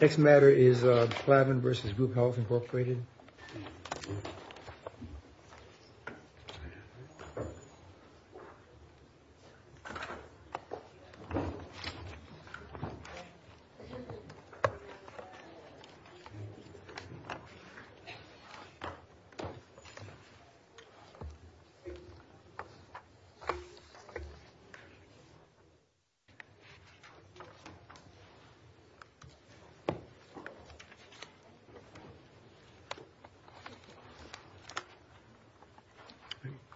Next matter is Plavin v. Group Health Incorporated.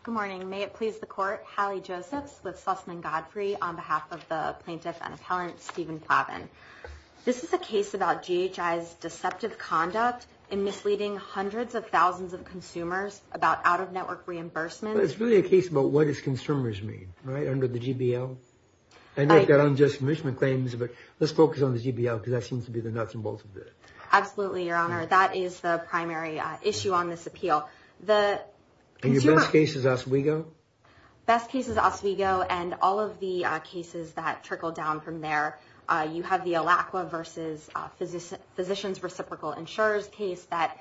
Good morning. May it please the court. Hallie Josephs with Sussman Godfrey on behalf of the plaintiff and appellant Stephen Plavin. This is a case about GHI's deceptive conduct in misleading hundreds of thousands of consumers about out-of-network reimbursements. It's really a case about what its consumers mean, right, under the GBL. I know you've got unjust commissioning claims, but let's focus on the GBL because that seems to be the nuts and bolts of it. Absolutely, Your Honor. That is the primary issue on this appeal. And your best case is Oswego? Best case is Oswego, and all of the cases that trickle down from there, you have the Alacqua v. Physicians Reciprocal Insurance case that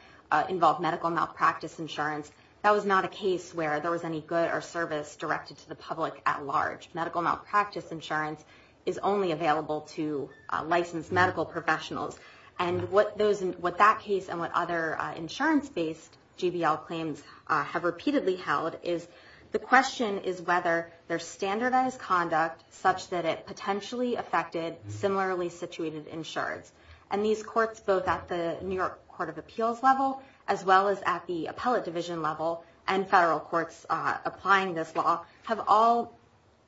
involved medical malpractice insurance. That was not a case where there was any good or service directed to the public at large. Medical malpractice insurance is only available to licensed medical professionals. And what that case and what other insurance-based GBL claims have repeatedly held is the question is whether there's standardized conduct such that it potentially affected similarly situated insureds. And these courts, both at the New York Court of Appeals level, as well as at the appellate division level, and federal courts applying this law, have all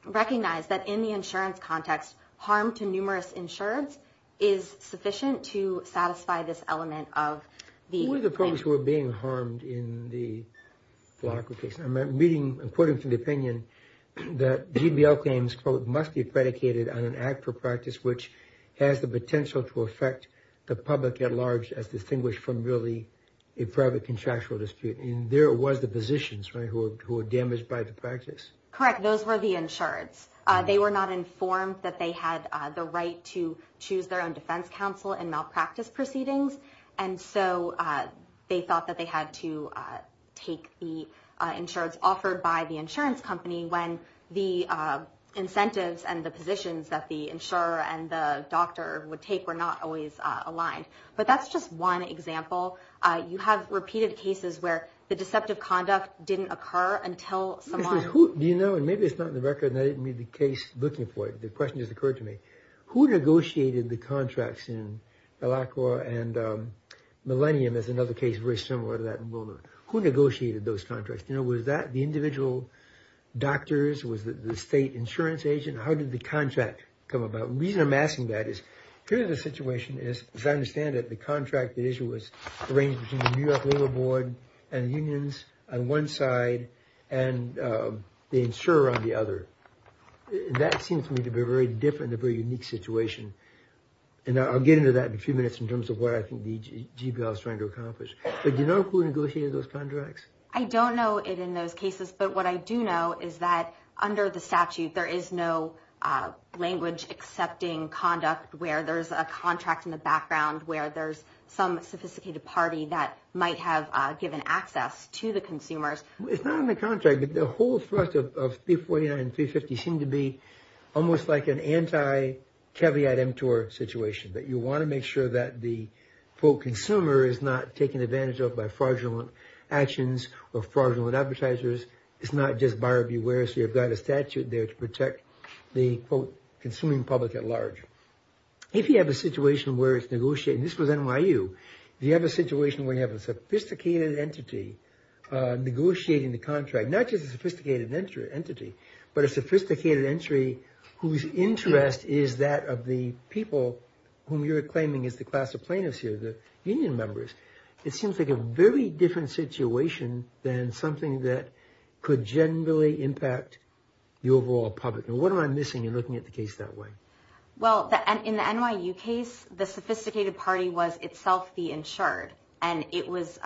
recognized that in the insurance context, harm to numerous insureds is sufficient to satisfy this element of the claim. Who are the folks who are being harmed in the Alacqua case? I'm quoting from the opinion that GBL claims, quote, must be predicated on an act or practice which has the potential to affect the insured. And that act or practice could affect the public at large as distinguished from merely a private contractual dispute. And there was the physicians, right, who were damaged by the practice. Correct. Those were the insureds. They were not informed that they had the right to choose their own defense counsel in malpractice proceedings. And so they thought that they had to take the insureds offered by the insurance company when the incentives and the positions that the insurer and the doctor would take were not always met. But that's just one example. You have repeated cases where the deceptive conduct didn't occur until someone... Do you know, and maybe it's not in the record, and I didn't read the case looking for it, the question just occurred to me. Who negotiated the contracts in Alacqua and Millennium is another case very similar to that. Who negotiated those contracts? You know, was that the individual doctors? Was it the state insurance agent? How did the contract come about? The reason I'm asking that is here the situation is, as I understand it, the contract issue was arranged between the New York Labor Board and unions on one side and the insurer on the other. That seems to me to be very different, a very unique situation. And I'll get into that in a few minutes in terms of what I think the GBL is trying to accomplish. But do you know who negotiated those contracts? I don't know it in those cases, but what I do know is that under the statute, there is no language accepting conduct where there's a contract in the background where there's some sophisticated party that might have given access to the consumers. It's not in the contract, but the whole thrust of 349 and 350 seemed to be almost like an anti-Keviat MTOR situation, that you want to make sure that the, quote, consumer is not taken advantage of by fraudulent actions or fraudulent advertisers. It's not just buyer beware, so you've got a statute there to protect the, quote, consuming public at large. If you have a situation where it's negotiated, and this was NYU. If you have a situation where you have a sophisticated entity negotiating the contract, not just a sophisticated entity, but a sophisticated entry whose interest is that of the people whom you're claiming is the class of plaintiffs here, the union members, it seems like a very different situation than something that could generally impact the overall public. And what am I missing in looking at the case that way? Well, in the NYU case, the sophisticated party was itself the insured, and it was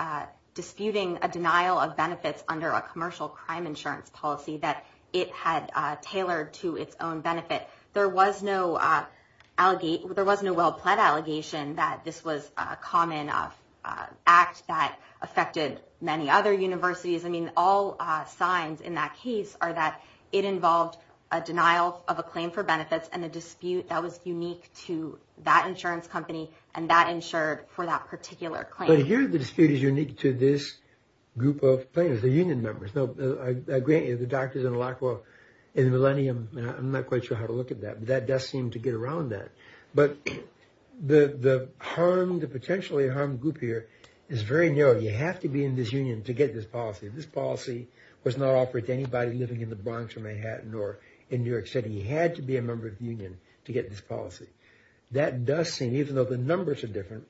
disputing a denial of benefits under a commercial crime insurance policy that it had tailored to its own benefit. There was no well-planned allegation that this was a common act that affected many other universities. I mean, all signs in that case are that it involved a denial of a claim for benefits and a dispute that was unique to that insurance company, and that insured for that particular claim. But here, the dispute is unique to this group of plaintiffs, the union members. Now, I agree, the doctors in Lacroix in the millennium, I'm not quite sure how to look at that, but that does seem to get around that. But the potentially harmed group here is very narrow. You have to be in this union to get this policy. This policy was not offered to anybody living in the Bronx or Manhattan or in New York City. You had to be a member of the union to get this policy. That does seem, even though the numbers are different,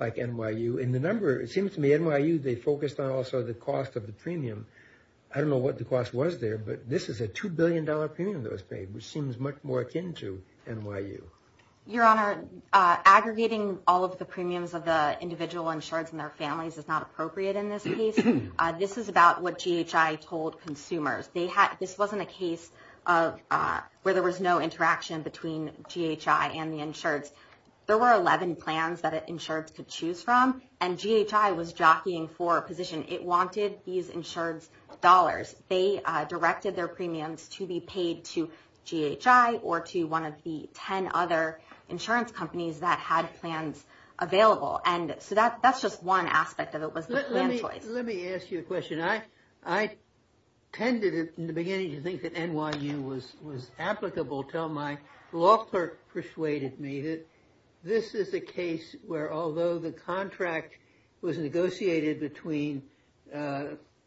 like NYU, and the number, it seems to me NYU, they focused on also the cost of the premium. I don't know what the cost was there, but this is a $2 billion premium that was paid, which seems much more akin to NYU. Your Honor, aggregating all of the premiums of the individual insureds and their families is not appropriate in this case. This is about what GHI told consumers. This wasn't a case where there was no interaction between GHI and the insureds. There were 11 plans that insureds could choose from, and GHI was jockeying for a position. It wanted these insureds' dollars. They directed their premiums to be paid to GHI or to one of the 10 other insurance companies that had plans available. That's just one aspect of it was the plan choice. Let me ask you a question. I tended, in the beginning, to think that NYU was applicable until my law clerk persuaded me that this is a case where, although the contract was negotiated between the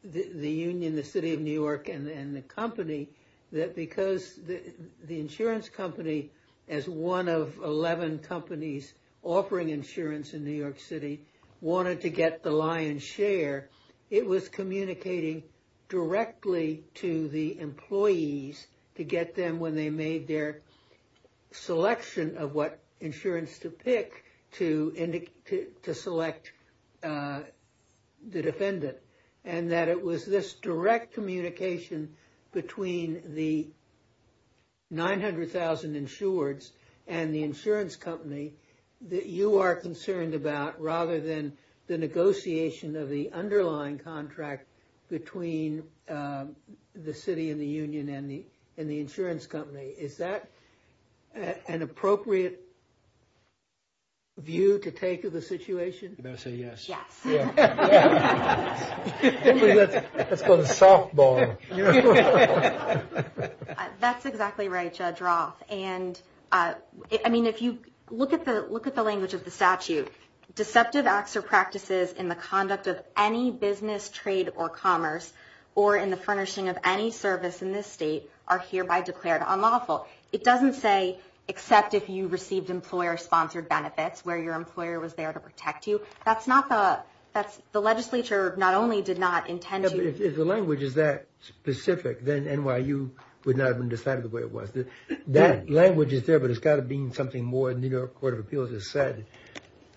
union, the city of New York, and the company, that because the insurance company, as one of 11 companies offering insurance in New York City, wanted to get the lion's share, it was communicating directly to the employees to get them when they made their selection of what insurance to pick to select the defendant, and that it was this direct communication between the 900,000 insureds and the insurance company that you are concerned about, rather than the negotiation of the underlying contract between the city and the union and the insurance company. Is that an appropriate view to take of the situation? You better say yes. That's called a softball. That's exactly right, Judge Roth. Look at the language of the statute. Deceptive acts or practices in the conduct of any business, trade, or commerce, or in the furnishing of any service in this state, are hereby declared unlawful. It doesn't say, except if you received employer-sponsored benefits, where your employer was there to protect you. The legislature not only did not intend to... If the language is that specific, then NYU would not have decided the way it was. That language is there, but it's got to mean something more than the New York Court of Appeals has said.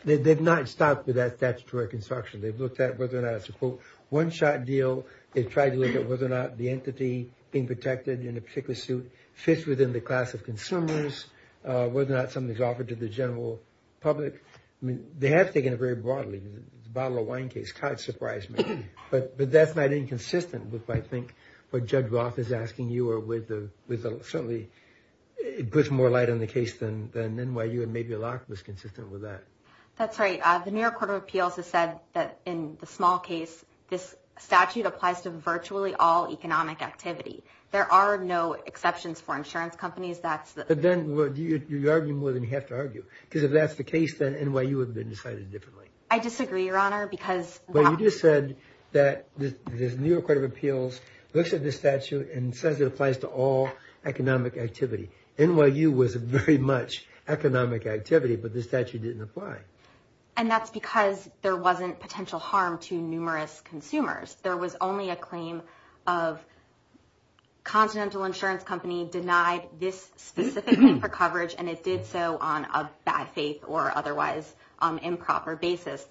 They've not stopped with that statutory construction. They've looked at whether or not it's a one-shot deal. They've tried to look at whether or not the entity being protected in a particular suit fits within the class of consumers, whether or not something's offered to the general public. I mean, they have taken it very broadly. The bottle of wine case kind of surprised me, but that's not inconsistent with what I think Judge Roth is asking you, or certainly it puts more light on the case than NYU, and maybe Locke was consistent with that. That's right. The New York Court of Appeals has said that in the small case, this statute applies to virtually all economic activity. There are no exceptions for insurance companies. But then you argue more than you have to argue, because if that's the case, then NYU would have been decided differently. I disagree, Your Honor, because... You just said that the New York Court of Appeals looks at this statute and says it applies to all economic activity. NYU was very much economic activity, but this statute didn't apply. And that's because there wasn't potential harm to numerous consumers. There was only a claim of Continental Insurance Company denied this specifically for coverage, and it did so on a bad faith or otherwise improper basis.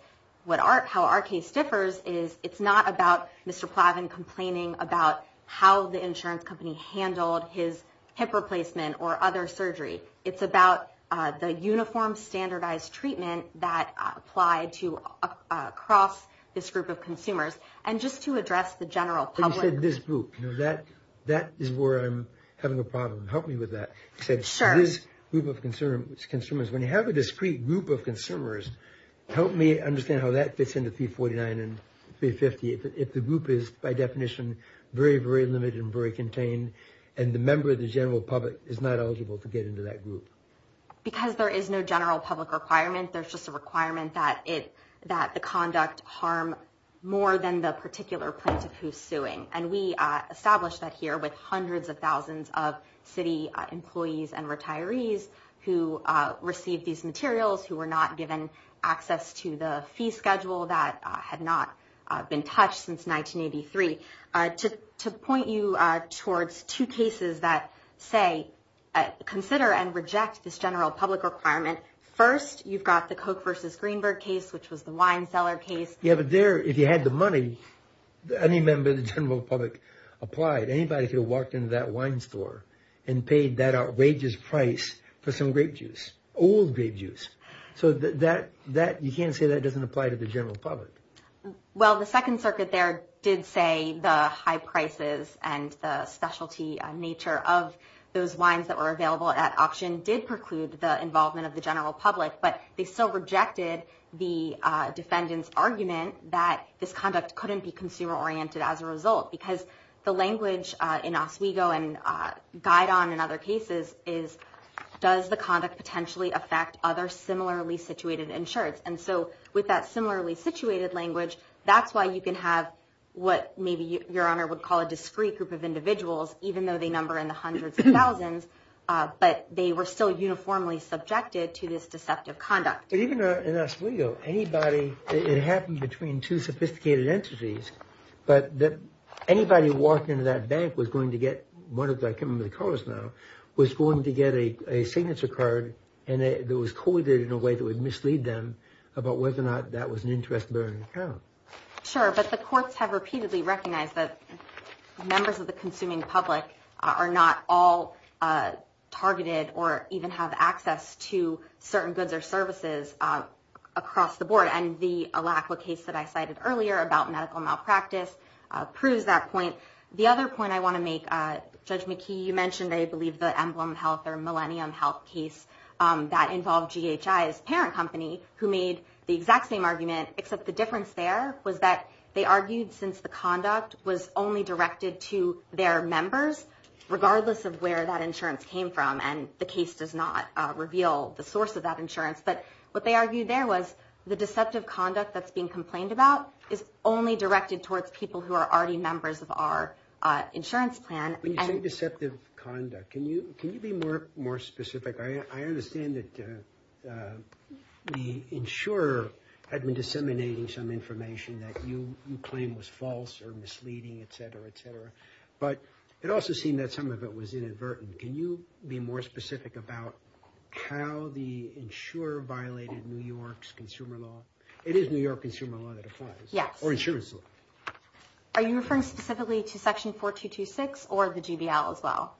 How our case differs is it's not about Mr. Plavin complaining about how the insurance company handled his hip replacement or other surgery. It's about the uniform standardized treatment that applied to across this group of consumers. And just to address the general public... You said this group. That is where I'm having a problem. Help me with that. You said this group of consumers. When you have a discrete group of consumers, help me understand how that fits into 349 and 350. If the group is, by definition, very, very limited and very contained, and the member of the general public is not eligible to get into that group. Because there is no general public requirement. There's just a requirement that the conduct harm more than the particular plaintiff who's suing. And we established that here with hundreds of thousands of city employees and retirees who received these materials, who were not given access to the fee schedule that had not been touched since 1983. To point you towards two cases that, say, consider and reject this general public requirement. First, you've got the Coke versus Greenberg case, which was the wine cellar case. Yeah, but there, if you had the money, any member of the general public applied. Anybody could have walked into that wine store and paid that outrageous price for some grape juice, old grape juice. So you can't say that doesn't apply to the general public. Well, the Second Circuit there did say the high prices and the specialty nature of those wines that were available at auction did preclude the involvement of the general public. But that doesn't mean that this conduct couldn't be consumer-oriented as a result. Because the language in Oswego and Guidon and other cases is, does the conduct potentially affect other similarly situated insureds? And so with that similarly situated language, that's why you can have what maybe Your Honor would call a discrete group of individuals, even though they number in the hundreds of thousands, but they were still uniformly subjected to this deceptive conduct. But even in Oswego, it happened between two sophisticated entities. But anybody who walked into that bank was going to get, I can't remember the colors now, was going to get a signature card that was coded in a way that would mislead them about whether or not that was an interest-bearing account. Sure, but the courts have repeatedly recognized that members of the consuming public are not all targeted or even have access to certain goods or services across the board. And the Alacla case that I cited earlier about medical malpractice proves that point. The other point I want to make, Judge McKee, you mentioned, I believe, the Emblem Health or Millennium Health case that involved GHI's parent company, who made the exact same argument, except the difference there was that they argued since the conduct was only directed to their members, regardless of where that insurance came from, and the case does not reveal the source of that insurance, but what they argued there was the deceptive conduct that's being complained about is only directed towards people who are already members of our insurance plan. When you say deceptive conduct, can you be more specific? I understand that the insurer had been disseminating some information that you claim was false or misleading, et cetera, et cetera, but it also seemed that some of it was inadvertent. Can you be more specific about how the insurer violated New York's consumer law? It is New York consumer law that applies, or insurance law. Are you referring specifically to Section 4226 or the GBL as well?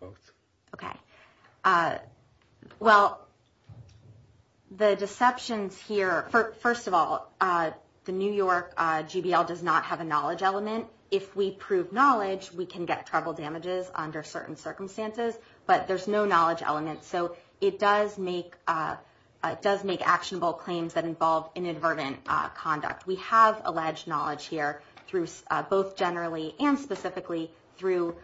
Both. Okay. Well, the deceptions here, first of all, the New York GBL does not have a knowledge element. If we prove knowledge, we can get trouble damages under certain circumstances, but there's no knowledge element, so it does make actionable claims that involve inadvertent conduct. We have alleged knowledge here, both generally and specifically, through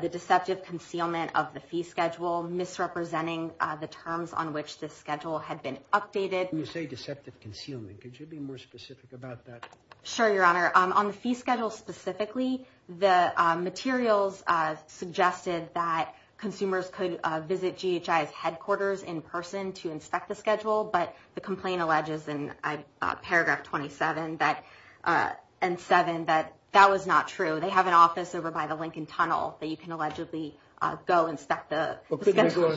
the deceptive concealment of the fee schedule, misrepresenting the terms on which this schedule had been updated. When you say deceptive concealment, could you be more specific about that? Sure, Your Honor. On the fee schedule specifically, the materials suggested that consumers could visit GHI's headquarters in person to inspect the schedule, but the complaint alleges in paragraph 27 and 7 that that was not true. They have an office over by the Lincoln Tunnel that you can allegedly go inspect the schedule.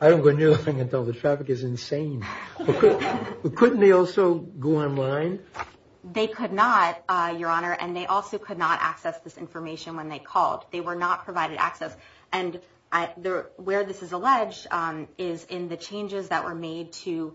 I don't go near the Lincoln Tunnel. The traffic is insane. Couldn't they also go online? They could not, Your Honor, and they also could not access this information when they called. They were not provided access. Where this is alleged is in the changes that were made to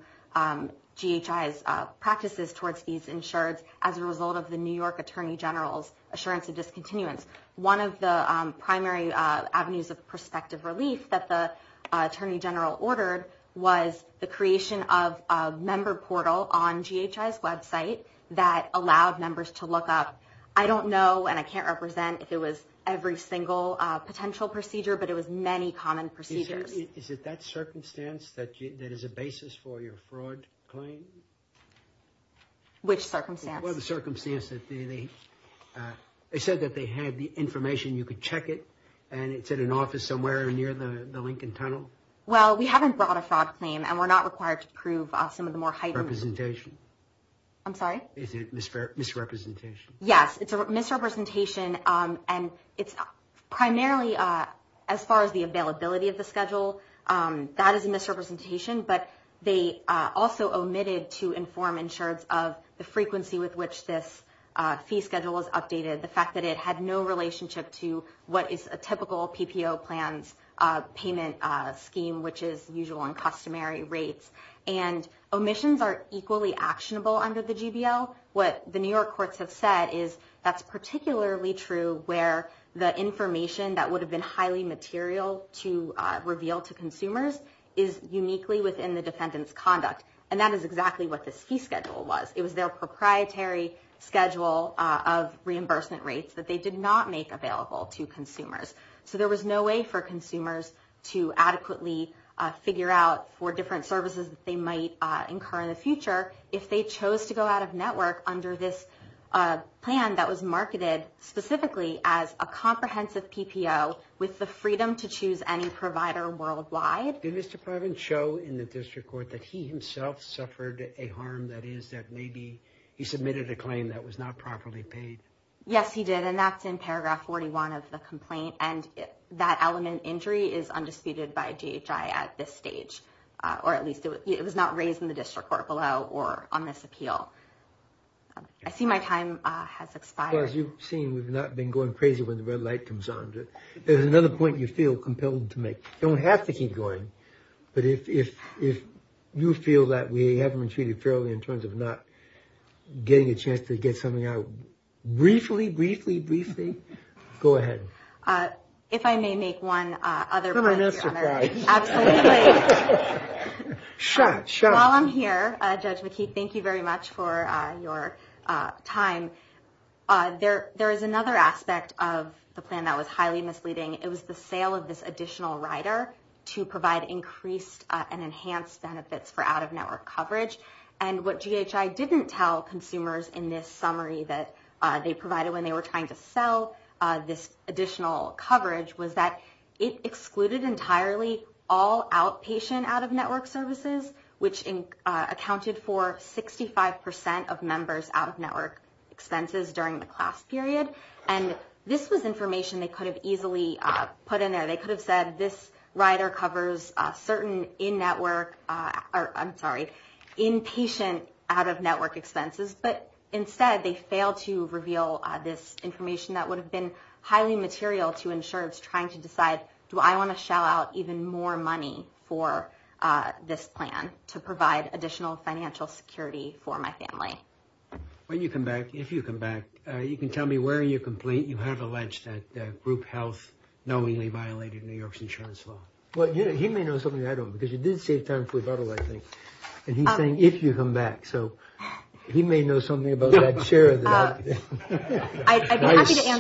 GHI's practices towards these insureds as a result of the New York Attorney General's assurance of discontinuance. One of the primary avenues of prospective relief that the Attorney General ordered was the creation of a member portal on GHI's website that allowed members to look up. I don't know, and I can't represent if it was every single potential procedure, but it was many common procedures. Is it that circumstance that is a basis for your fraud claim? Which circumstance? They said that they had the information, you could check it, and it's in an office somewhere near the Lincoln Tunnel. Well, we haven't brought a fraud claim, and we're not required to prove some of the more heightened... Representation. Yes, it's a misrepresentation, and it's primarily, as far as the availability of the schedule, that is a misrepresentation, but they also omitted to inform insureds of the frequency with which this fee schedule was updated, the fact that it had no relationship to what is a typical PPO plan's payment scheme, which is usual and customary rates. And omissions are equally actionable under the GBL. What the New York courts have said is that's particularly true where the information that would have been highly material to reveal to consumers is uniquely within the defendant's conduct, and that is exactly what this fee schedule was. It was their proprietary schedule of reimbursement rates that they did not make available to consumers. So there was no way for consumers to adequately figure out for different services that they might incur in the future if they chose to go out of network under this plan that was marketed specifically as a comprehensive PPO with the freedom to choose any provider worldwide. Did Mr. Parvin show in the district court that he himself suffered a harm, that is that maybe he submitted a claim that was not properly paid? Yes, he did, and that's in paragraph 41 of the complaint, and that element, injury, is undisputed by DHI at this stage, or at least it was not raised in the district court below or on this appeal. I see my time has expired. As far as you've seen, we've not been going crazy when the red light comes on, but there's another point you feel compelled to make. You don't have to keep going, but if you feel that we haven't been treated fairly in terms of not getting a chance to get something out briefly, briefly, briefly, go ahead. If I may make one other point. While I'm here, Judge McKee, thank you very much for your time. There is another aspect of the plan that was highly misleading. It was the sale of this additional rider to provide increased and enhanced benefits for out-of-network coverage, and what GHI didn't tell consumers in this summary that they provided when they were trying to sell this additional coverage was that it excluded entirely all outpatient out-of-network services, which accounted for 65 percent of members' out-of-network expenses during the class period, and this was information they could have easily put in there. They could have said this rider covers certain in-patient out-of-network expenses, but instead they failed to reveal this information that would have been highly material to insurers trying to decide, do I want to shell out even more money for this plan to provide additional financial security for my family? When you come back, if you come back, you can tell me where you have alleged that group health knowingly violated New York's insurance law. Well, he may know something I don't, because you did save time for a bottle, I think, and he's saying if you come back, so he may know something about that chair. I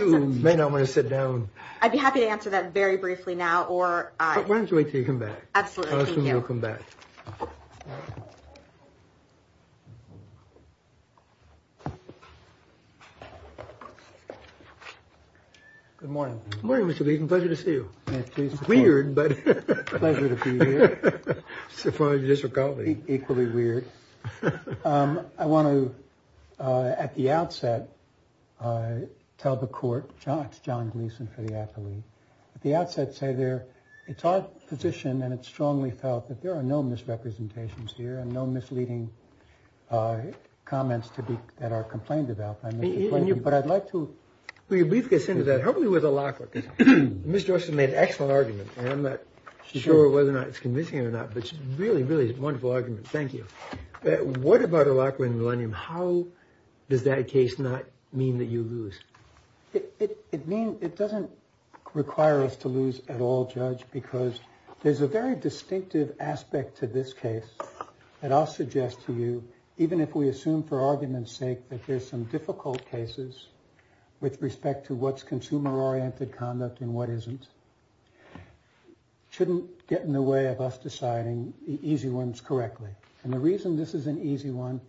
may not want to sit down. I'd be happy to answer that very briefly now, or why don't you wait till you come back? Good morning. Good morning, Mr. Beeson. Pleasure to see you. Pleasure to be here. Equally weird. I want to, at the outset, tell the court, it's John Gleeson for the athlete, at the outset say it's our position and it's strongly felt that there are no misrepresentations here and no misleading comments that are complained about. But I'd like to be a brief guess into that, hopefully with a locker. Mr. Orson made an excellent argument, and I'm not sure whether or not it's convincing or not, but it's really, really a wonderful argument. Thank you. What about a locker in Millennium? How does that case not mean that you lose? It means it doesn't require us to lose at all, Judge, because there's a very distinctive aspect to this case that I'll suggest to you, even if we assume for argument's sake that there's some difficult cases with respect to what's consumer-oriented conduct and what isn't, shouldn't get in the way of us deciding the easy ones correctly. And the reason this is an easy one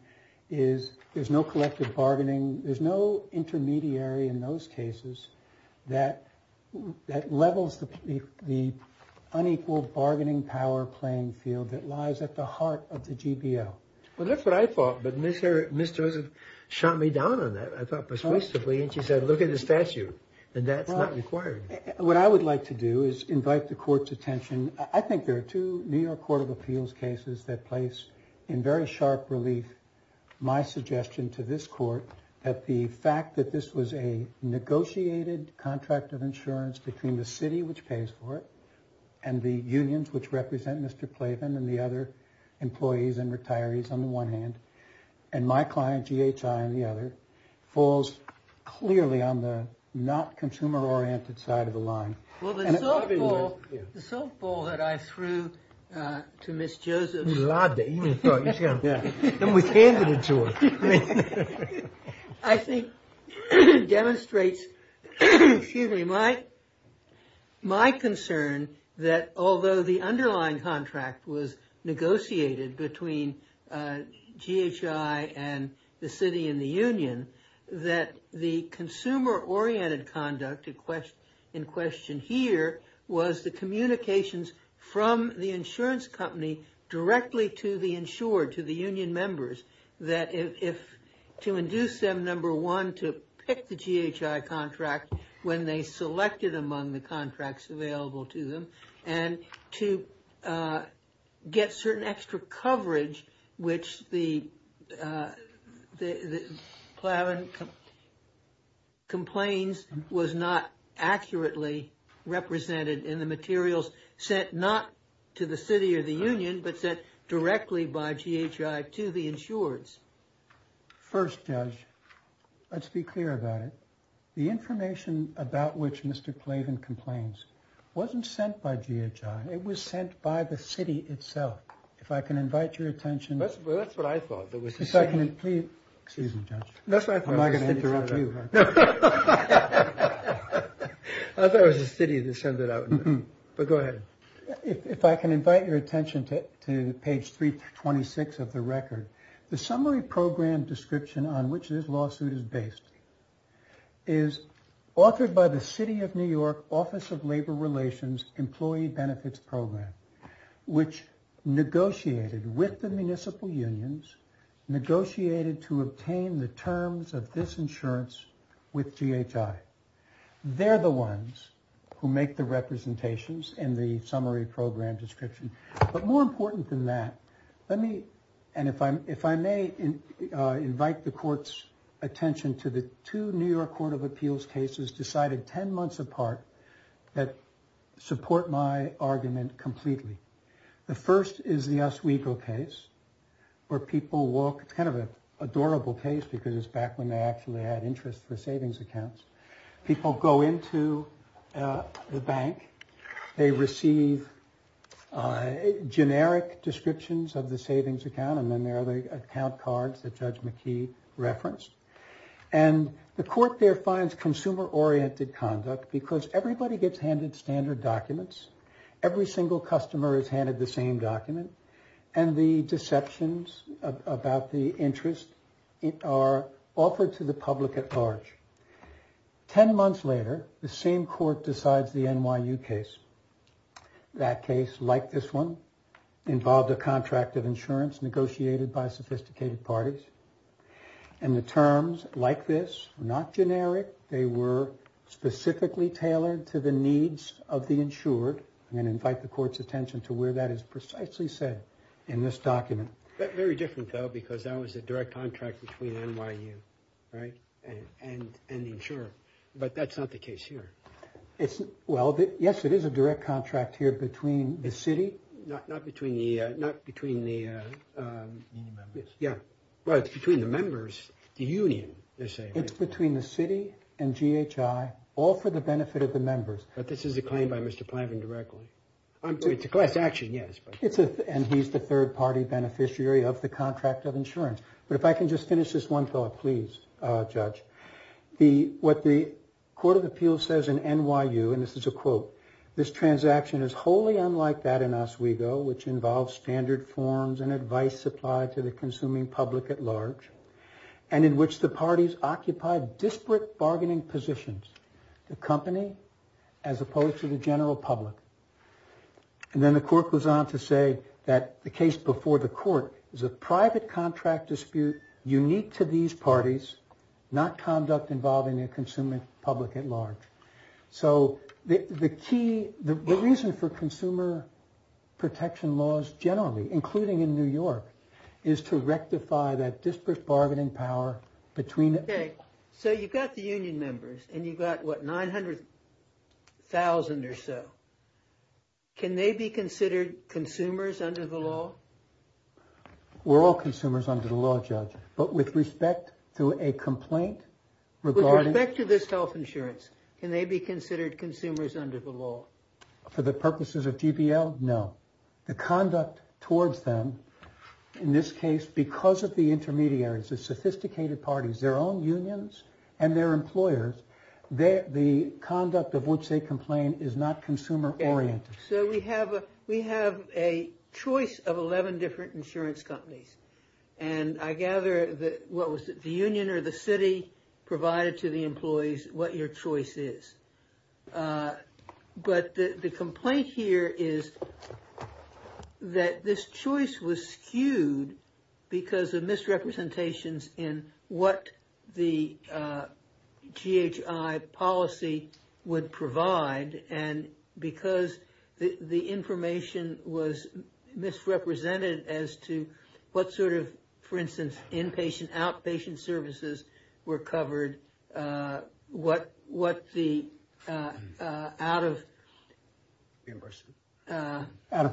is there's no collective bargaining, there's no intermediary in those cases that levels the unequal bargaining power playing field that lies at the heart of the GBO. Well, that's what I thought, but Ms. Joseph shot me down on that. I thought persuasively, and she said, look at the statute, and that's not required. What I would like to do is invite the Court's attention. I think there are two New York Court of Appeals cases that place, in very sharp relief, my suggestion to this Court that the fact that this was a negotiated contract of insurance between the city, which pays for it, and the unions, which represent Mr. Plavin and the other employees and retirees on the one hand, and my client, GHI, on the other, falls clearly on the not consumer-oriented side of the line. Well, the softball that I threw to Ms. Joseph... And was handed it to her. I think it demonstrates, excuse me, my concern that although the underlying contract was negotiated between GHI and the city and the union, that the consumer-oriented conduct in question here was the communications from the insurance company directly to the insured, to the union members, that to induce them, number one, to pick the GHI contract when they selected among the contracts available to them, and to get certain extra coverage, which the Plavin complains was not accurately represented in the materials sent not to the city or the union, but sent directly by GHI to the insureds. First, Judge, let's be clear about it. The information about which Mr. Plavin complains wasn't sent by GHI. It was sent by the city itself. If I can invite your attention... Excuse me, Judge. I thought it was the city that sent it out. But go ahead. If I can invite your attention to page 326 of the record, the summary program description on which this lawsuit is based is authored by the City of New York Office of Labor Relations Employee Benefits Program, which negotiated with the municipal unions, negotiated to obtain the terms of this insurance with GHI. They're the ones who make the representations in the summary program description. But more important than that, let me... And if I may invite the court's attention to the two New York Court of Appeals cases decided 10 months apart that support my argument completely. The first is the Oswego case where people walk... It's kind of an adorable case because it's back when they actually had interest for savings accounts. People go into the bank, they receive generic descriptions of the savings account, and then there are the account cards that Judge McKee referenced. And the court there finds consumer oriented conduct because everybody gets handed standard documents. Every single customer is handed the same document. And the deceptions about the interest are offered to the public at large. Ten months later, the same court decides the NYU case. That case, like this one, involved a contract of insurance negotiated by sophisticated parties. And the terms like this, not generic, they were specifically tailored to the needs of the insured. I'm going to invite the court's attention to where that is precisely said in this document. That's very different, though, because that was a direct contract between NYU, right? And the insurer. But that's not the case here. Well, yes, it is a direct contract here between the city. Not between the members. The union, they're saying. It's between the city and GHI, all for the benefit of the members. But this is a claim by Mr. Plavin directly. It's a class action, yes. And he's the third party beneficiary of the contract of insurance. But if I can just finish this one thought, please, Judge. What the Court of Appeals says in NYU, and this is a quote, this transaction is wholly unlike that in Oswego, which involves standard forms and advice supplied to the consuming public at large, and in which the parties occupy disparate bargaining positions. The company, as opposed to the general public. And then the court goes on to say that the case before the court is a private contract dispute unique to these parties, not conduct involving a consuming public at large. So the key, the reason for consumer protection laws generally, including in New York, is to rectify that disparate bargaining power between. So you've got the union members and you've got, what, 900,000 or so. Can they be considered consumers under the law? We're all consumers under the law, Judge. But with respect to a complaint regarding. With respect to this health insurance, can they be considered consumers under the law? For the purposes of GPL? No. The conduct towards them, in this case, because of the intermediaries, the sophisticated parties, their own unions and their employers, the conduct of which they complain is not consumer oriented. So we have we have a choice of 11 different insurance companies. And I gather that what was the union or the city provided to the employees what your choice is. But the complaint here is that this choice was skewed because of misrepresentations in what the GHI policy would provide. And because the information was misrepresented as to what sort of, for instance, inpatient outpatient services were covered, what what the out of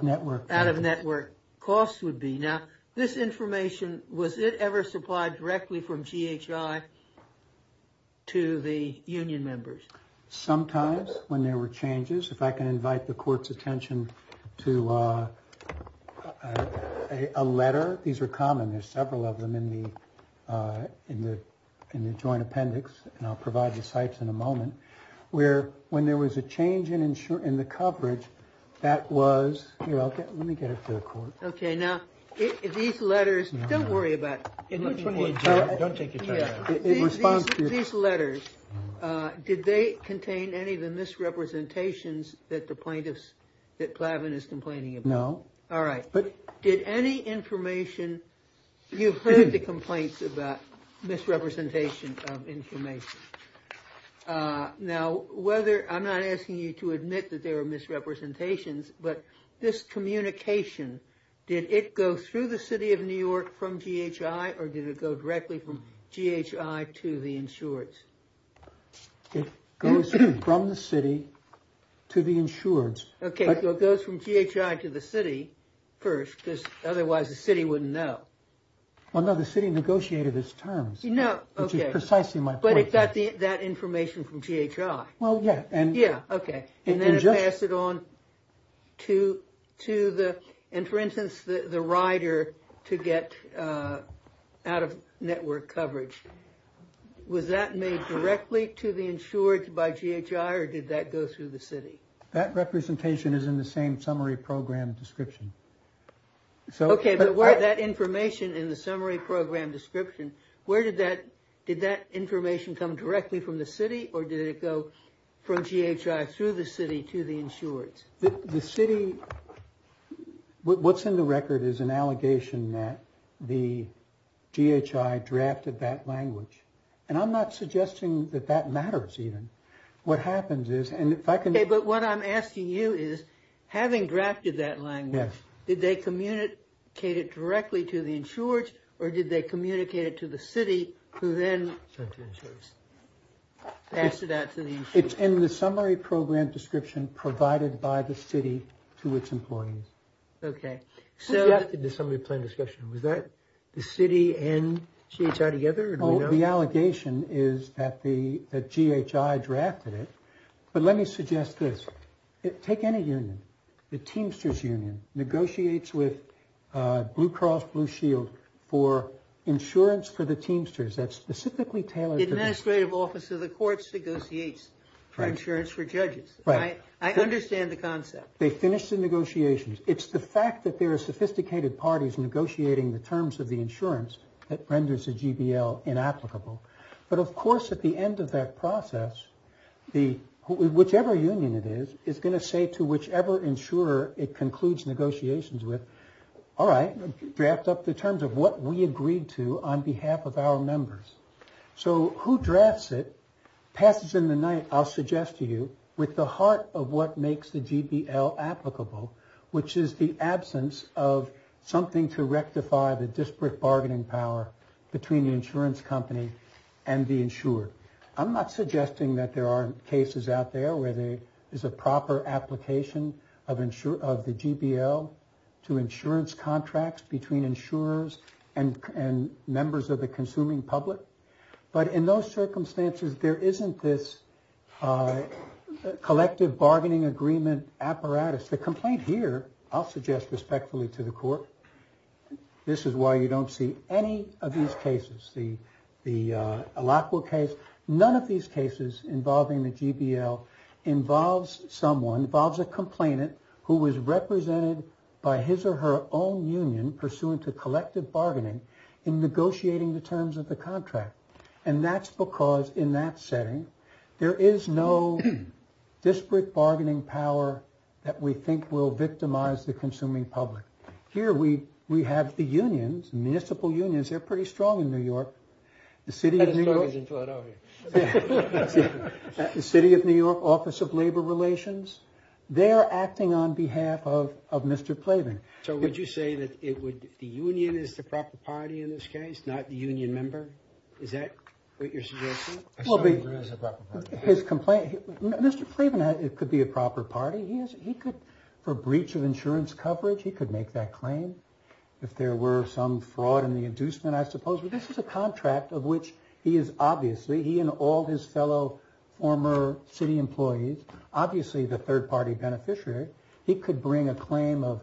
network costs would be. Now, this information, was it ever supplied directly from GHI to the union members? Sometimes when there were changes. If I can invite the court's attention to a letter. These are common. There's several of them in the joint appendix. And I'll provide the sites in a moment where when there was a change in the coverage that was. Let me get it to the court. OK, now these letters. Don't worry about it. Don't take it. It responds to these letters. Did they contain any of the misrepresentations that the plaintiffs that Plavin is complaining about? No. All right. But did any information, you've heard the complaints about misrepresentation of information. Now, whether I'm not asking you to admit that there are misrepresentations, but this communication, did it go through the city of New York from GHI or did it go directly from GHI to the insureds? It goes from the city to the insureds. OK, so it goes from GHI to the city first, because otherwise the city wouldn't know. Well, no, the city negotiated its terms, which is precisely my point. But it got that information from GHI. Well, yeah. OK. And then it passed it on to the, and for instance, the rider to get out of network coverage. Was that made directly to the insureds by GHI or did that go through the city? That representation is in the same summary program description. OK, but that information in the summary program description, where did that, did that information come directly from the city or did it go from GHI through the city to the insureds? The city, what's in the record is an allegation that the GHI drafted that language. And I'm not suggesting that that matters even. What happens is, and if I can... OK, but what I'm asking you is, having drafted that language, did they communicate it directly to the insureds or did they communicate it to the city who then... Passed it out to the insureds. It's in the summary program description provided by the city to its employees. OK. Who drafted the summary plan discussion? Was that the city and GHI together? The allegation is that the GHI drafted it. But let me suggest this. Take any union. The Teamsters union negotiates with Blue Cross Blue Shield for insurance for the Teamsters. That's specifically tailored... The legislative office of the courts negotiates for insurance for judges. I understand the concept. They finish the negotiations. It's the fact that there are sophisticated parties negotiating the terms of the insurance that renders the GBL inapplicable. But of course at the end of that process, whichever union it is, is going to say to whichever insurer it concludes negotiations with, all right, draft up the terms of what we agreed to on behalf of our members. So who drafts it passes in the night, I'll suggest to you, with the heart of what makes the GBL applicable, which is the absence of something to rectify the disparate bargaining power between the insurance company and the insured. I'm not suggesting that there aren't cases out there where there is a proper application of the GBL to insurance contracts between insurers and members of the consuming public. But in those circumstances, there isn't this collective bargaining agreement apparatus. The complaint here, I'll suggest respectfully to the court, this is why you don't see any of these cases. The Alacoa case, none of these cases involving the GBL involves someone, involves a complainant who was represented by his or her own union pursuant to collective bargaining in negotiating the terms of the contract. And that's because in that setting, there is no disparate bargaining power that we think will victimize the consuming public. Here we have the unions, municipal unions, they're pretty strong in New York. The City of New York Office of Labor Relations, they're acting on behalf of Mr. Plavin. So would you say that the union is the proper party in this case, not the union member? Is that what you're suggesting? Mr. Plavin could be a proper party. He could, for breach of insurance coverage, he could make that claim. If there were some fraud in the inducement, I suppose. But this is a contract of which he is obviously, he and all his fellow former city employees, obviously the third party beneficiary, he could bring a claim of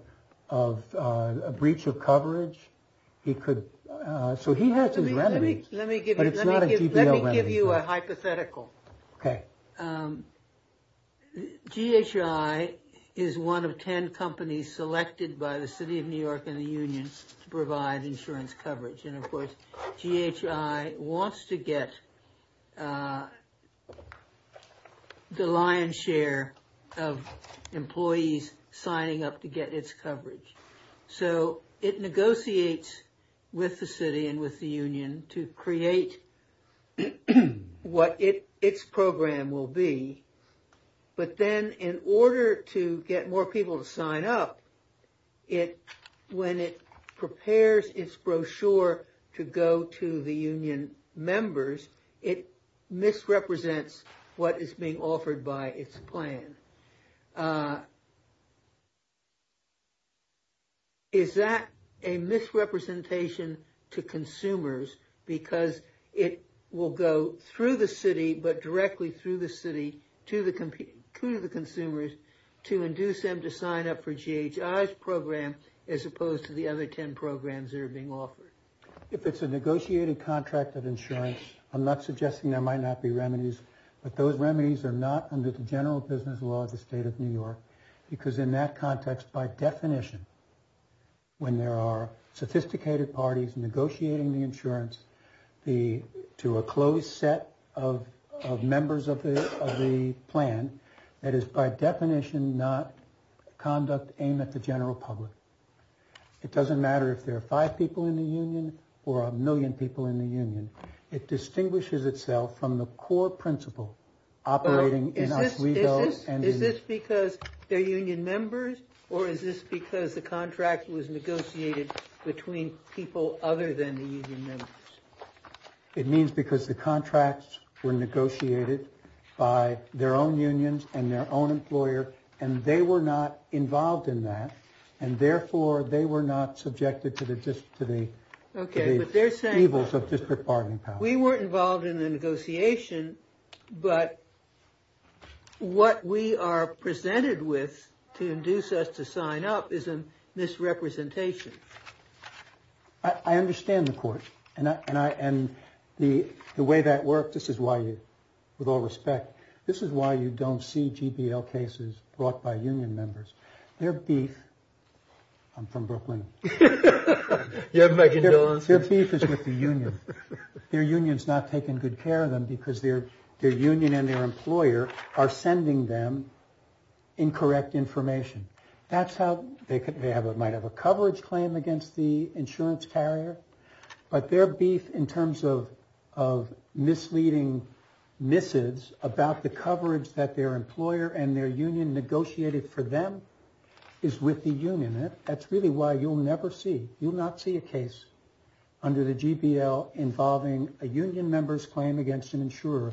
a breach of coverage. He could, so he has his remedies. But it's not a GBL remedy. Let me give you a hypothetical. GHI is one of ten companies selected by the City of New York and the union to provide insurance coverage. And of course, GHI wants to get the lion's share of employees signing up to get its coverage. So it negotiates with the city and with the union to create what its program will be. But then in order to get more people to sign up, when it prepares its brochure to go to the union members, it misrepresents what is being offered by its plan. Is that a misrepresentation to consumers because it will go through the city, but directly through the city to the consumers to induce them to sign up for GHI's program as opposed to the other ten programs that are being offered? If it's a negotiated contract of insurance, I'm not against the law of the state of New York, because in that context, by definition, when there are sophisticated parties negotiating the insurance to a closed set of members of the plan, that is by definition not conduct aimed at the general public. It doesn't matter if there are five people in the union or a million people in the union. It distinguishes itself from the core principle operating in Oswego. Is this because they're union members or is this because the contract was negotiated between people other than the union members? It means because the contracts were negotiated by their own unions and their own employer, and they were not involved in that. And therefore they were not subjected to the evils of district bargaining power. We weren't involved in the negotiation, but what we are presented with to induce us to sign up is a misrepresentation. I understand the court and the way that works. This is why, with all respect, this is why you don't see me from Brooklyn. Their beef is with the union. Their union's not taking good care of them because their union and their employer are sending them incorrect information. That's how they might have a coverage claim against the insurance carrier, but their beef in terms of misleading missives about the coverage that their employer and their union negotiated for them is with the union. That's really why you'll never see, you'll not see a case under the GPL involving a union member's claim against an insurer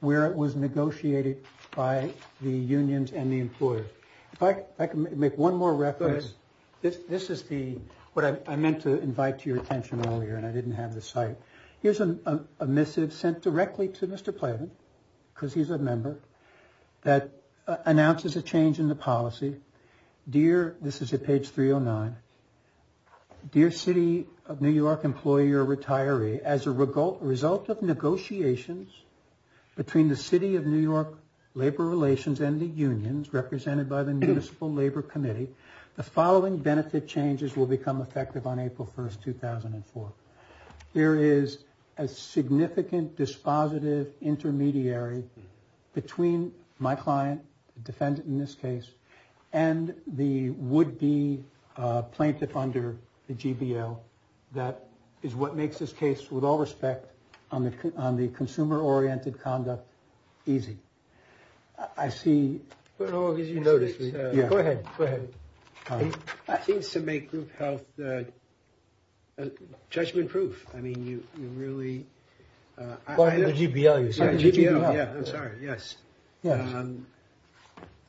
where it was negotiated by the unions and the employer. If I can make one more reference. This is the, what I meant to invite to your attention earlier and I didn't have the site. Here's a missive sent directly to Mr. Playman because he's a member that announces a change in the policy. Dear, this is at page 309, Dear City of New York Employee or Retiree, as a result of negotiations between the City of New York Labor Relations and the unions represented by the Municipal Labor Committee, the following benefit changes will become effective on April 1st, 2004. There is a significant dispositive intermediary between my client, defendant in this case, and the would be plaintiff under the GPL. That is what makes this case with all respect on the consumer oriented conduct easy. I see. You notice me. Yeah, go ahead. Go ahead. I think to make group health that judgment proof. I mean, you really want to go to GPL. Yeah, I'm sorry. Yes. Yeah.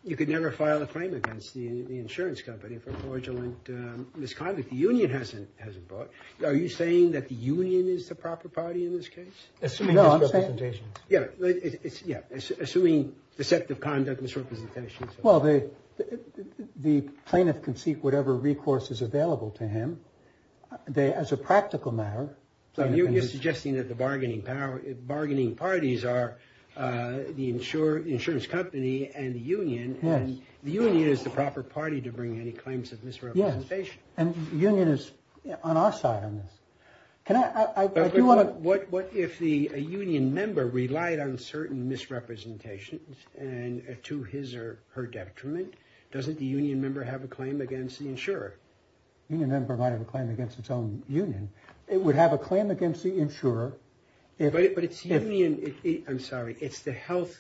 You could never file a claim against the insurance company for fraudulent misconduct. The union hasn't hasn't bought. Are you saying that the union is the proper party in this case? Assuming the set of conduct misrepresentation. Well, they the plaintiff can seek whatever recourse is available to him. They as a practical matter. So you're suggesting that the bargaining power bargaining parties are the insurance insurance company and the union. Yes. The union is the proper party to bring any claims of misrepresentation. And union is on our side on this. Can I. What if the union member relied on certain misrepresentations and to his or her detriment? Doesn't the union member have a claim against the insurer? Might have a claim against its own union. It would have a claim against the insurer. But it's union. I'm sorry. It's the health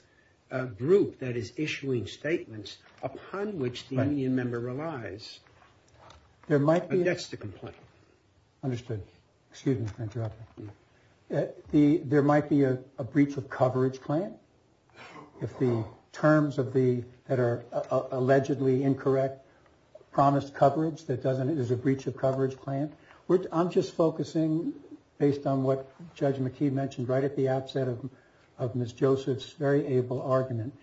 group that is issuing statements upon which the union member relies. There might be. That's the complaint. Understood. Excuse me. There might be a breach of coverage claim if the terms of the that are allegedly incorrect promised coverage that doesn't it is a breach of coverage claim. I'm just focusing based on what Judge McKee mentioned right at the outset of Miss Joseph's very able argument.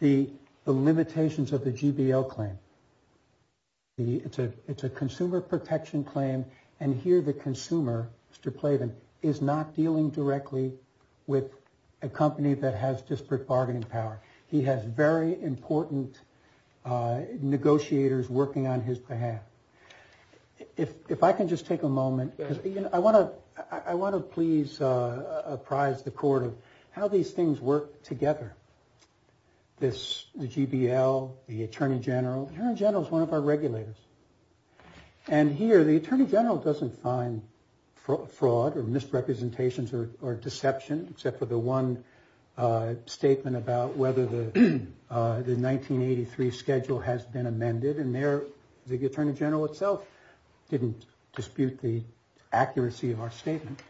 The limitations of the GBL claim. It's a it's a consumer protection claim. And here the consumer to play them is not dealing directly with a company that has disparate bargaining power. He has very important negotiators working on his behalf. If I can just take a moment, I want to I want to please apprise the court of how these things work together. This GBL, the attorney general general is one of our regulators. And here the attorney general doesn't find fraud or misrepresentations or deception except for the one statement about whether the 1983 schedule has been amended. And there the attorney general itself didn't dispute the accuracy of our statement,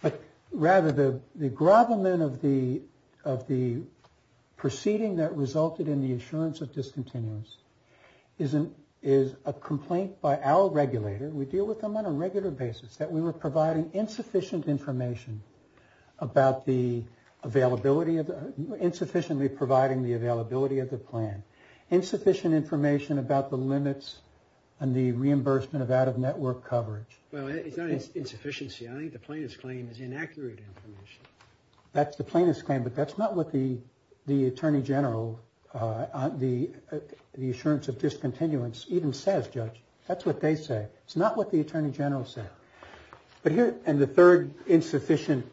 but rather the the grovelment of the of the proceeding that resulted in the assurance of discontinuous isn't is a complaint by our regulator. We deal with them on a regular basis that we were providing insufficient information about the availability of insufficiently providing the availability of the plan, insufficient information about the limits and the reimbursement of out of network coverage. Well, it's not insufficiency. I think the plaintiff's claim is inaccurate information. That's the plaintiff's claim. But that's not what the the attorney general on the assurance of discontinuance even says, Judge. That's what they say. It's not what the attorney general said. But here and the third insufficient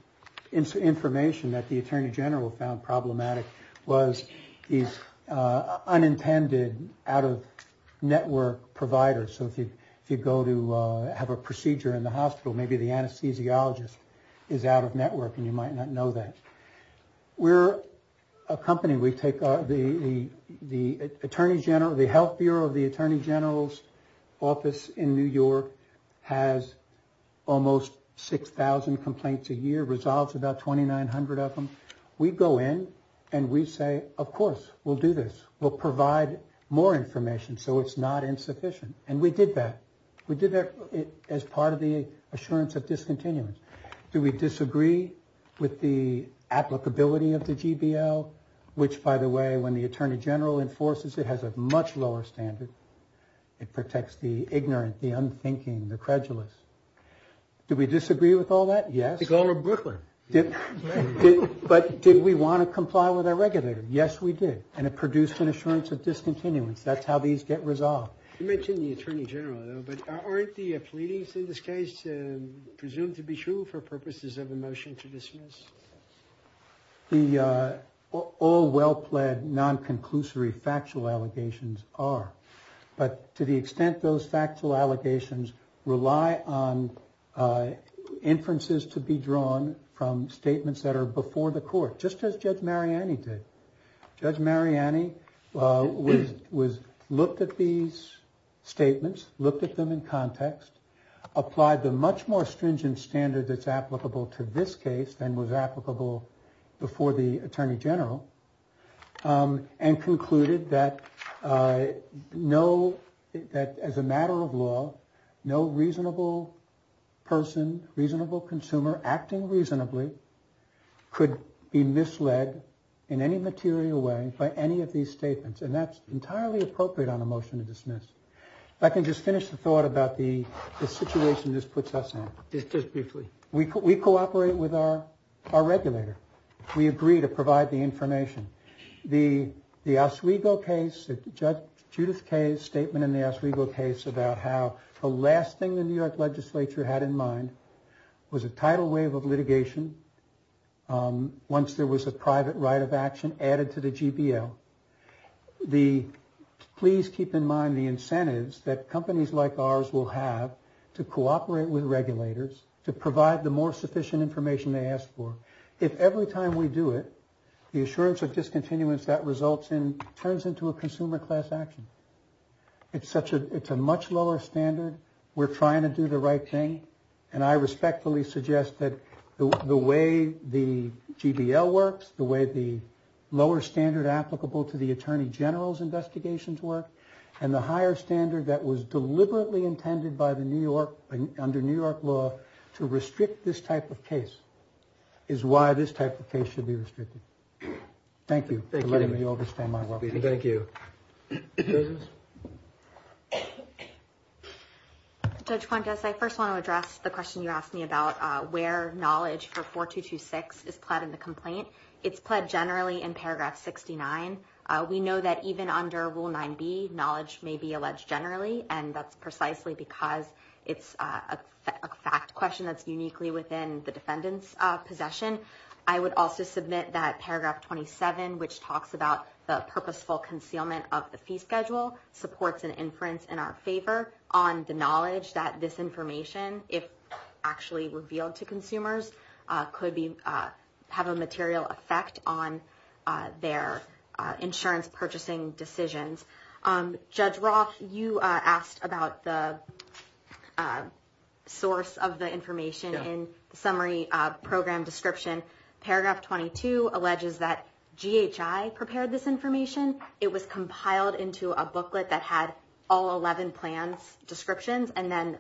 information that the attorney general found problematic was these unintended out of network providers. So if you if you go to have a procedure in the hospital, maybe the anesthesiologist is out of network and you might not know that we're a company. We take the the attorney general, the health bureau of the attorney general's office in New York has almost 6000 complaints a year, resolves about 2900 of them. We go in and we say, of course, we'll do this. We'll provide more information. So it's not insufficient. And we did that. We did that as part of the assurance of discontinuance. Do we disagree with the applicability of the GBL, which, by the way, when the attorney general enforces, it has a much lower standard. It protects the ignorant, the unthinking, the credulous. Do we disagree with all that? Yes. But did we want to comply with our regulator? Yes, we did. And it produced an assurance of discontinuance. That's how these get resolved. You mentioned the attorney general, though, but aren't the pleadings in this case presumed to be true for purposes of a motion to dismiss the all well-pled non-conclusory factual allegations are. But to the extent those factual allegations rely on inferences to be drawn from statements that are before the court, just as Judge Mariani did. Judge Mariani looked at these statements, looked at them in context, applied the much more stringent standard that's applicable to this case than was applicable before the attorney general and concluded that no, that as a matter of law, no reasonable person, reasonable consumer acting reasonably could be misled in any material way by any of these statements. And that's entirely appropriate on a motion to dismiss. If I can just finish the thought about the situation this puts us in. Just briefly. We cooperate with our regulator. We agree to provide the information. The Oswego case, Judge Judith Kaye's statement in the Oswego case about how the last thing the New York legislature had in mind was a tidal wave of litigation. Once there was a private right of action added to the GPL. Please keep in mind the incentives that companies like ours will have to cooperate with regulators to provide the more sufficient information they ask for. If every time we do it, the assurance of it's a much lower standard. We're trying to do the right thing. And I respectfully suggest that the way the GPL works, the way the lower standard applicable to the attorney general's investigations work and the higher standard that was deliberately intended by the New York under New York law to restrict this type of case is why this type of case should be restricted. Thank you. Thank you. Judge Quintus, I first want to address the question you asked me about where knowledge for 4226 is pled in the complaint. It's pled generally in Paragraph 69. We know that even under Rule 9B, knowledge may be alleged generally, and that's precisely because it's a fact question that's uniquely within the defendant's possession. I would also submit that Paragraph 27, which talks about the purposeful concealment of the fee schedule, supports an inference in our favor on the knowledge that this information, if actually revealed to consumers, could have a material effect on their insurance purchasing decisions. Judge Roth, you asked about the source of the information in the summary program description. Paragraph 22 alleges that GHI prepared this information. It was compiled into a booklet that had all 11 plans descriptions and then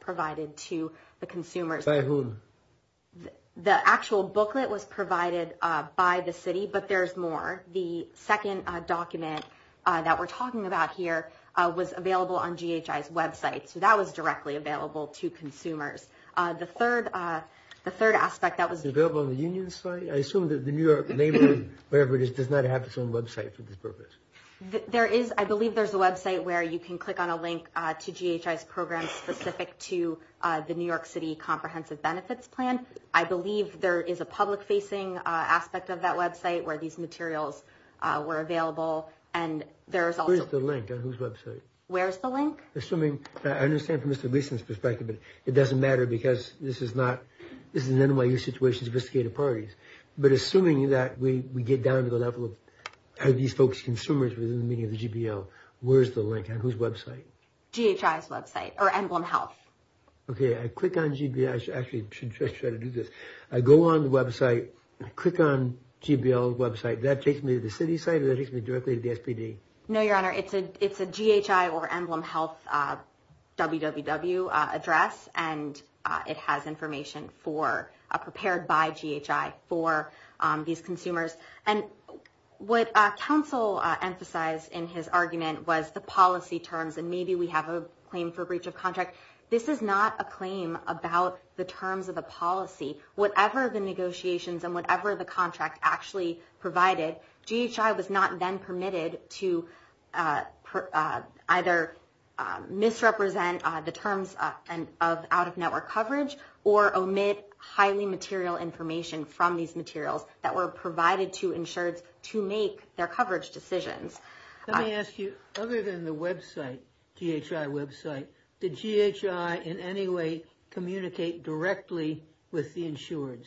provided to the consumers. Say who. The actual booklet was provided by the city, but there's more. The second document that we're talking about here was available on GHI's website, so that was directly available to consumers. The third aspect that was available on the union site. I assume that the New York neighborhood, whatever it is, does not have its own website for this purpose. I believe there's a website where you can click on a link to GHI's program specific to the New York City Comprehensive Benefits Plan. I believe there is a public-facing aspect of that website where these materials were available. Where's the link on whose website? Where's the link? I understand from Mr. Gleason's perspective, but it doesn't matter because this is not, this is an NYU situation, sophisticated parties. But assuming that we get down to the level of these folks, consumers, within the meaning of the GBO, where's the link on whose website? GHI's website or Emblem Health. I should try to do this. I go on the website, click on GBO's website. That takes me to the city site or that takes me directly to the SPD? No, Your Honor. It's a GHI or Emblem Health www address and it has information prepared by GHI for these consumers. What counsel emphasized in his argument was the policy terms and maybe we have a claim for breach of contract. This is not a claim about the terms of the policy. Whatever the negotiations and whatever the contract actually provided, GHI was not then permitted to either misrepresent the terms of out-of-network coverage or omit highly material information from these materials that were provided to insureds to make their coverage decisions. Let me ask you, other than the website, GHI website, did GHI in any way communicate directly with the insureds?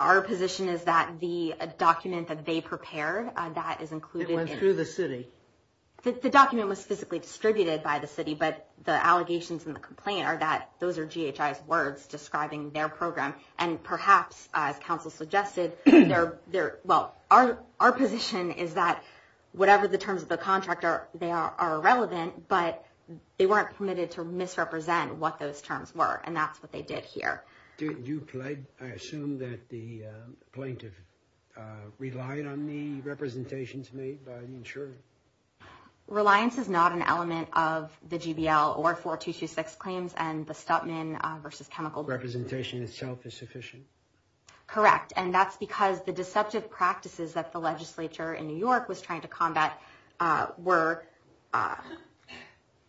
Our position is that the document that they prepared, that is included. It went through the city? The document was physically distributed by the city, but the allegations and the complaint are that those are GHI's words describing their program. And perhaps, as counsel suggested, our position is that whatever the terms of the contract are, they are irrelevant, but they weren't permitted to misrepresent what those terms were. And that's what they did here. I assume that the plaintiff relied on the representations made by the insured? Reliance is not an element of the GBL or 4226 claims and the Stutman versus chemical... Representation itself is sufficient? Correct. And that's because the deceptive practices that the legislature in New York was trying to combat were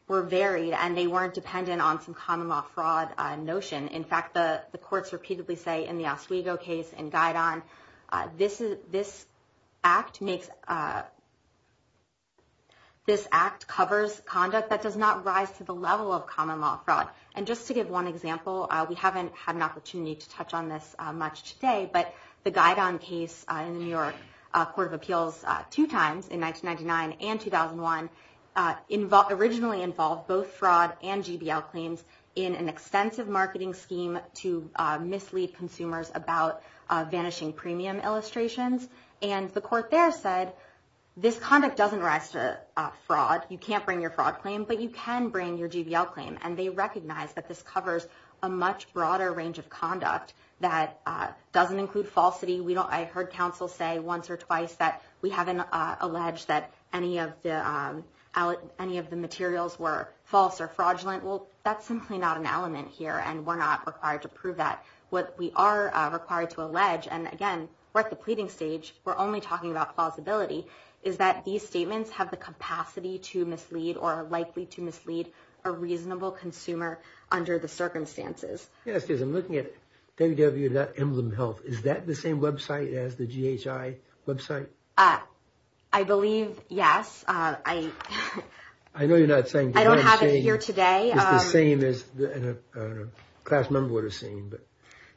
varied, and they weren't dependent on some common law fraud notion. In fact, the courts repeatedly say in the Oswego case and Guidon, this act covers conduct that does not rise to the level of common law fraud. And just to give one example, we haven't had an opportunity to touch on this much today, but the Guidon case in the New York Court of Appeals two times, in 1999 and 2001, originally involved both fraud and GBL claims in an extensive marketing scheme to mislead consumers about vanishing premium illustrations. And the court there said, this conduct doesn't rise to fraud. You can't bring your fraud claim, but you can bring your GBL claim. And they recognize that this covers a much broader range of conduct that doesn't include falsity. I heard counsel say once or twice that we haven't alleged that any of the materials were false or fraudulent. Well, that's simply not an element here, and we're not required to prove that. What we are required to allege, and again, we're at the pleading stage, we're only talking about plausibility, is that these statements have the capacity to mislead or are likely to mislead a reasonable consumer under the circumstances. Yes, I'm looking at www.emblemhealth.com. Is that the same website as the GHI website? I believe, yes. I don't have it here today. It's the same as a class member would have seen.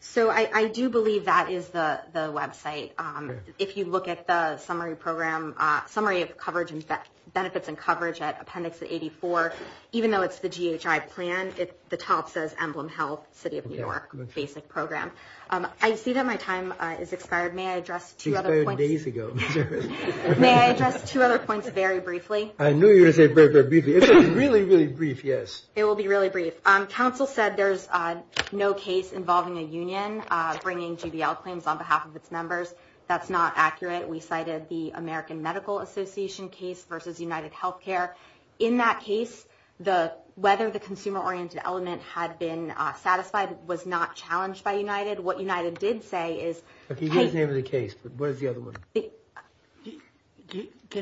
So I do believe that is the website. If you look at the summary program, summary of benefits and coverage at Appendix 84, even though it's the GHI plan, the top says Emblem Health, City of New York, basic program. I see that my time has expired. May I address two other points very briefly? It will be really brief. Counsel said there's no case involving a union bringing GBL claims on behalf of its members. That's not accurate. We cited the American Medical Association case versus UnitedHealthcare. In that case, whether the consumer-oriented element had been satisfied was not challenged by United. What United did say is... Can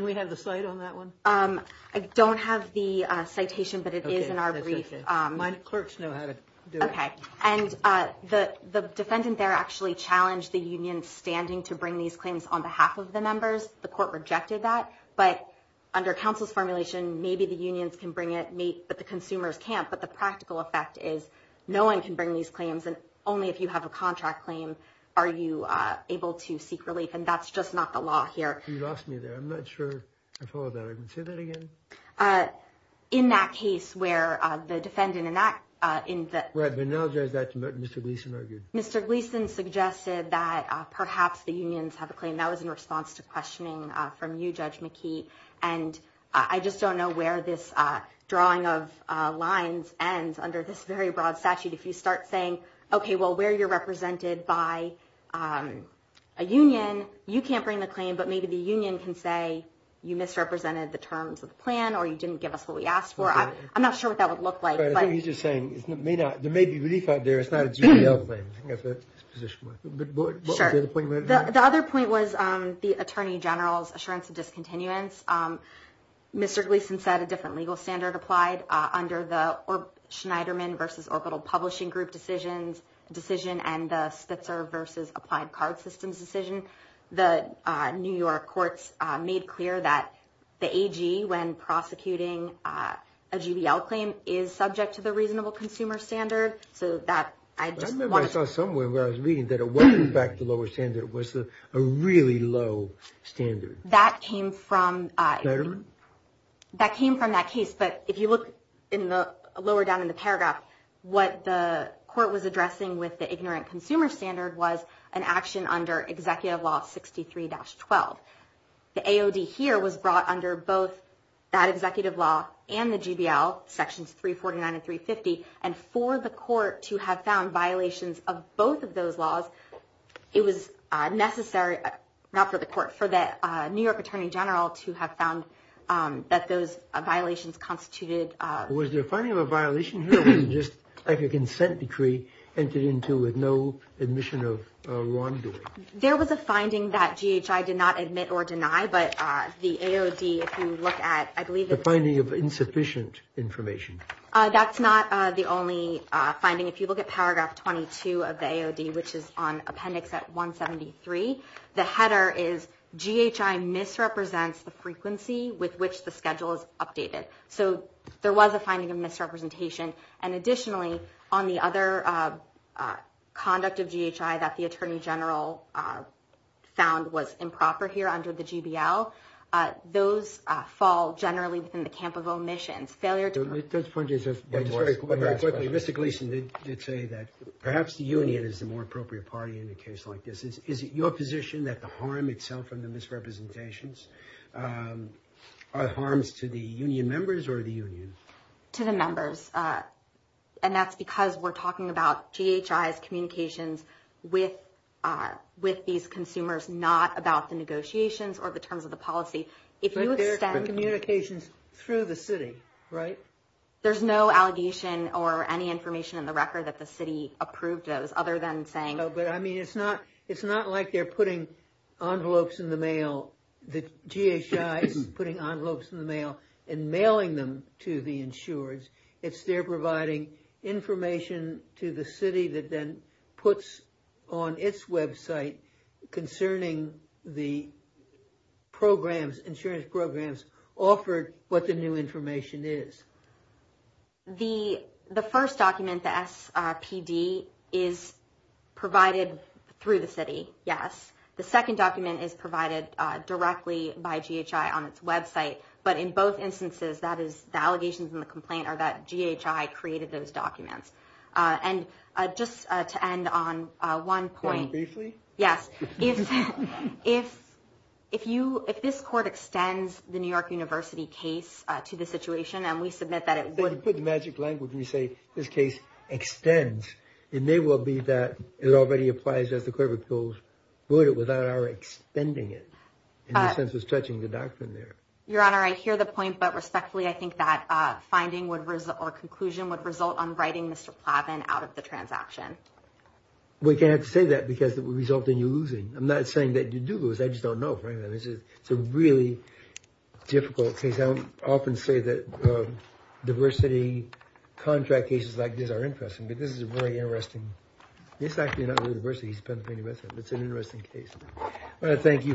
we have the cite on that one? I don't have the citation, but it is in our brief. The defendant there actually challenged the union standing to bring these claims on behalf of the members. The court rejected that, but under counsel's formulation, maybe the unions can bring it, but the consumers can't. But the practical effect is no one can bring these claims, and only if you have a contract claim are you able to seek relief, and that's just not the law here. You lost me there. I'm not sure I followed that. Say that again? In that case where the defendant... Mr. Gleeson suggested that perhaps the unions have a claim. That was in response to questioning from you, Judge McKee. I just don't know where this drawing of lines ends under this very broad statute. If you start saying, okay, well, where you're represented by a union, you can't bring the claim, but maybe the union can say you misrepresented the terms of the plan, or you didn't give us what we asked for. I'm not sure what that would look like. There may be relief out there. It's not a GDL claim. The other point was the Attorney General's assurance of discontinuance. Mr. Gleeson said a different legal standard applied under the Schneiderman v. Orbital Publishing Group decision, and the Spitzer v. Applied Card Systems decision. The New York courts made clear that the AG, when prosecuting a GDL claim, is subject to the reasonable consumer standard. I remember I saw somewhere where I was reading that a welcome back to lower standard was a really low standard. Schneiderman? That came from that case, but if you look lower down in the paragraph, what the court was addressing with the ignorant consumer standard was an action under Executive Law 63-12. The AOD here was brought under both that executive law and the GDL, sections 349 and 350, and for the court to have found violations of both of those laws, it was necessary, not for the court, for the New York Attorney General to have found that those violations constituted. Was there a finding of a violation here, or was it just like a consent decree, entered into with no admission of wrongdoing? There was a finding that GHI did not admit or deny, but the AOD, if you look at. The finding of insufficient information. That's not the only finding. If you look at paragraph 22 of the AOD, which is on appendix 173, the header is GHI misrepresents the frequency with which the schedule is updated. So there was a finding of misrepresentation. And additionally, on the other conduct of GHI that the Attorney General found was improper here under the GDL, those fall generally within the camp of omissions. Mr. Gleeson did say that perhaps the union is the more appropriate party in a case like this. Is it your position that the harm itself from the misrepresentations are harms to the union members or the union? To the members. And that's because we're talking about GHI's communications with these consumers, not about the negotiations or the terms of the policy. But they're communications through the city, right? There's no allegation or any information in the record that the city approved those, other than saying... No, but I mean, it's not like they're putting envelopes in the mail. GHI's putting envelopes in the mail and mailing them to the insurers. It's they're providing information to the city that then puts on its website concerning the insurance programs offered, what the new information is. The first document, the SPD, is provided through the city. Yes. The second document is provided directly by GHI on its website. But in both instances, that is the allegations and the complaint are that GHI created those documents. And just to end on one point. If this court extends the New York University case to the situation and we submit that it would... You put the magic language and you say, this case extends. It may well be that it already applies as the court of appeals would without our extending it. Your Honor, I hear the point, but respectfully, I think that finding or conclusion would result on writing Mr. Plavin out of the transaction. We can't say that because it would result in you losing. I'm not saying that you do lose, I just don't know. It's a really difficult case. I often say that diversity contract cases like this are interesting, but this is very interesting. It's actually not really diversity, it's an interesting case. I want to thank you for your argument.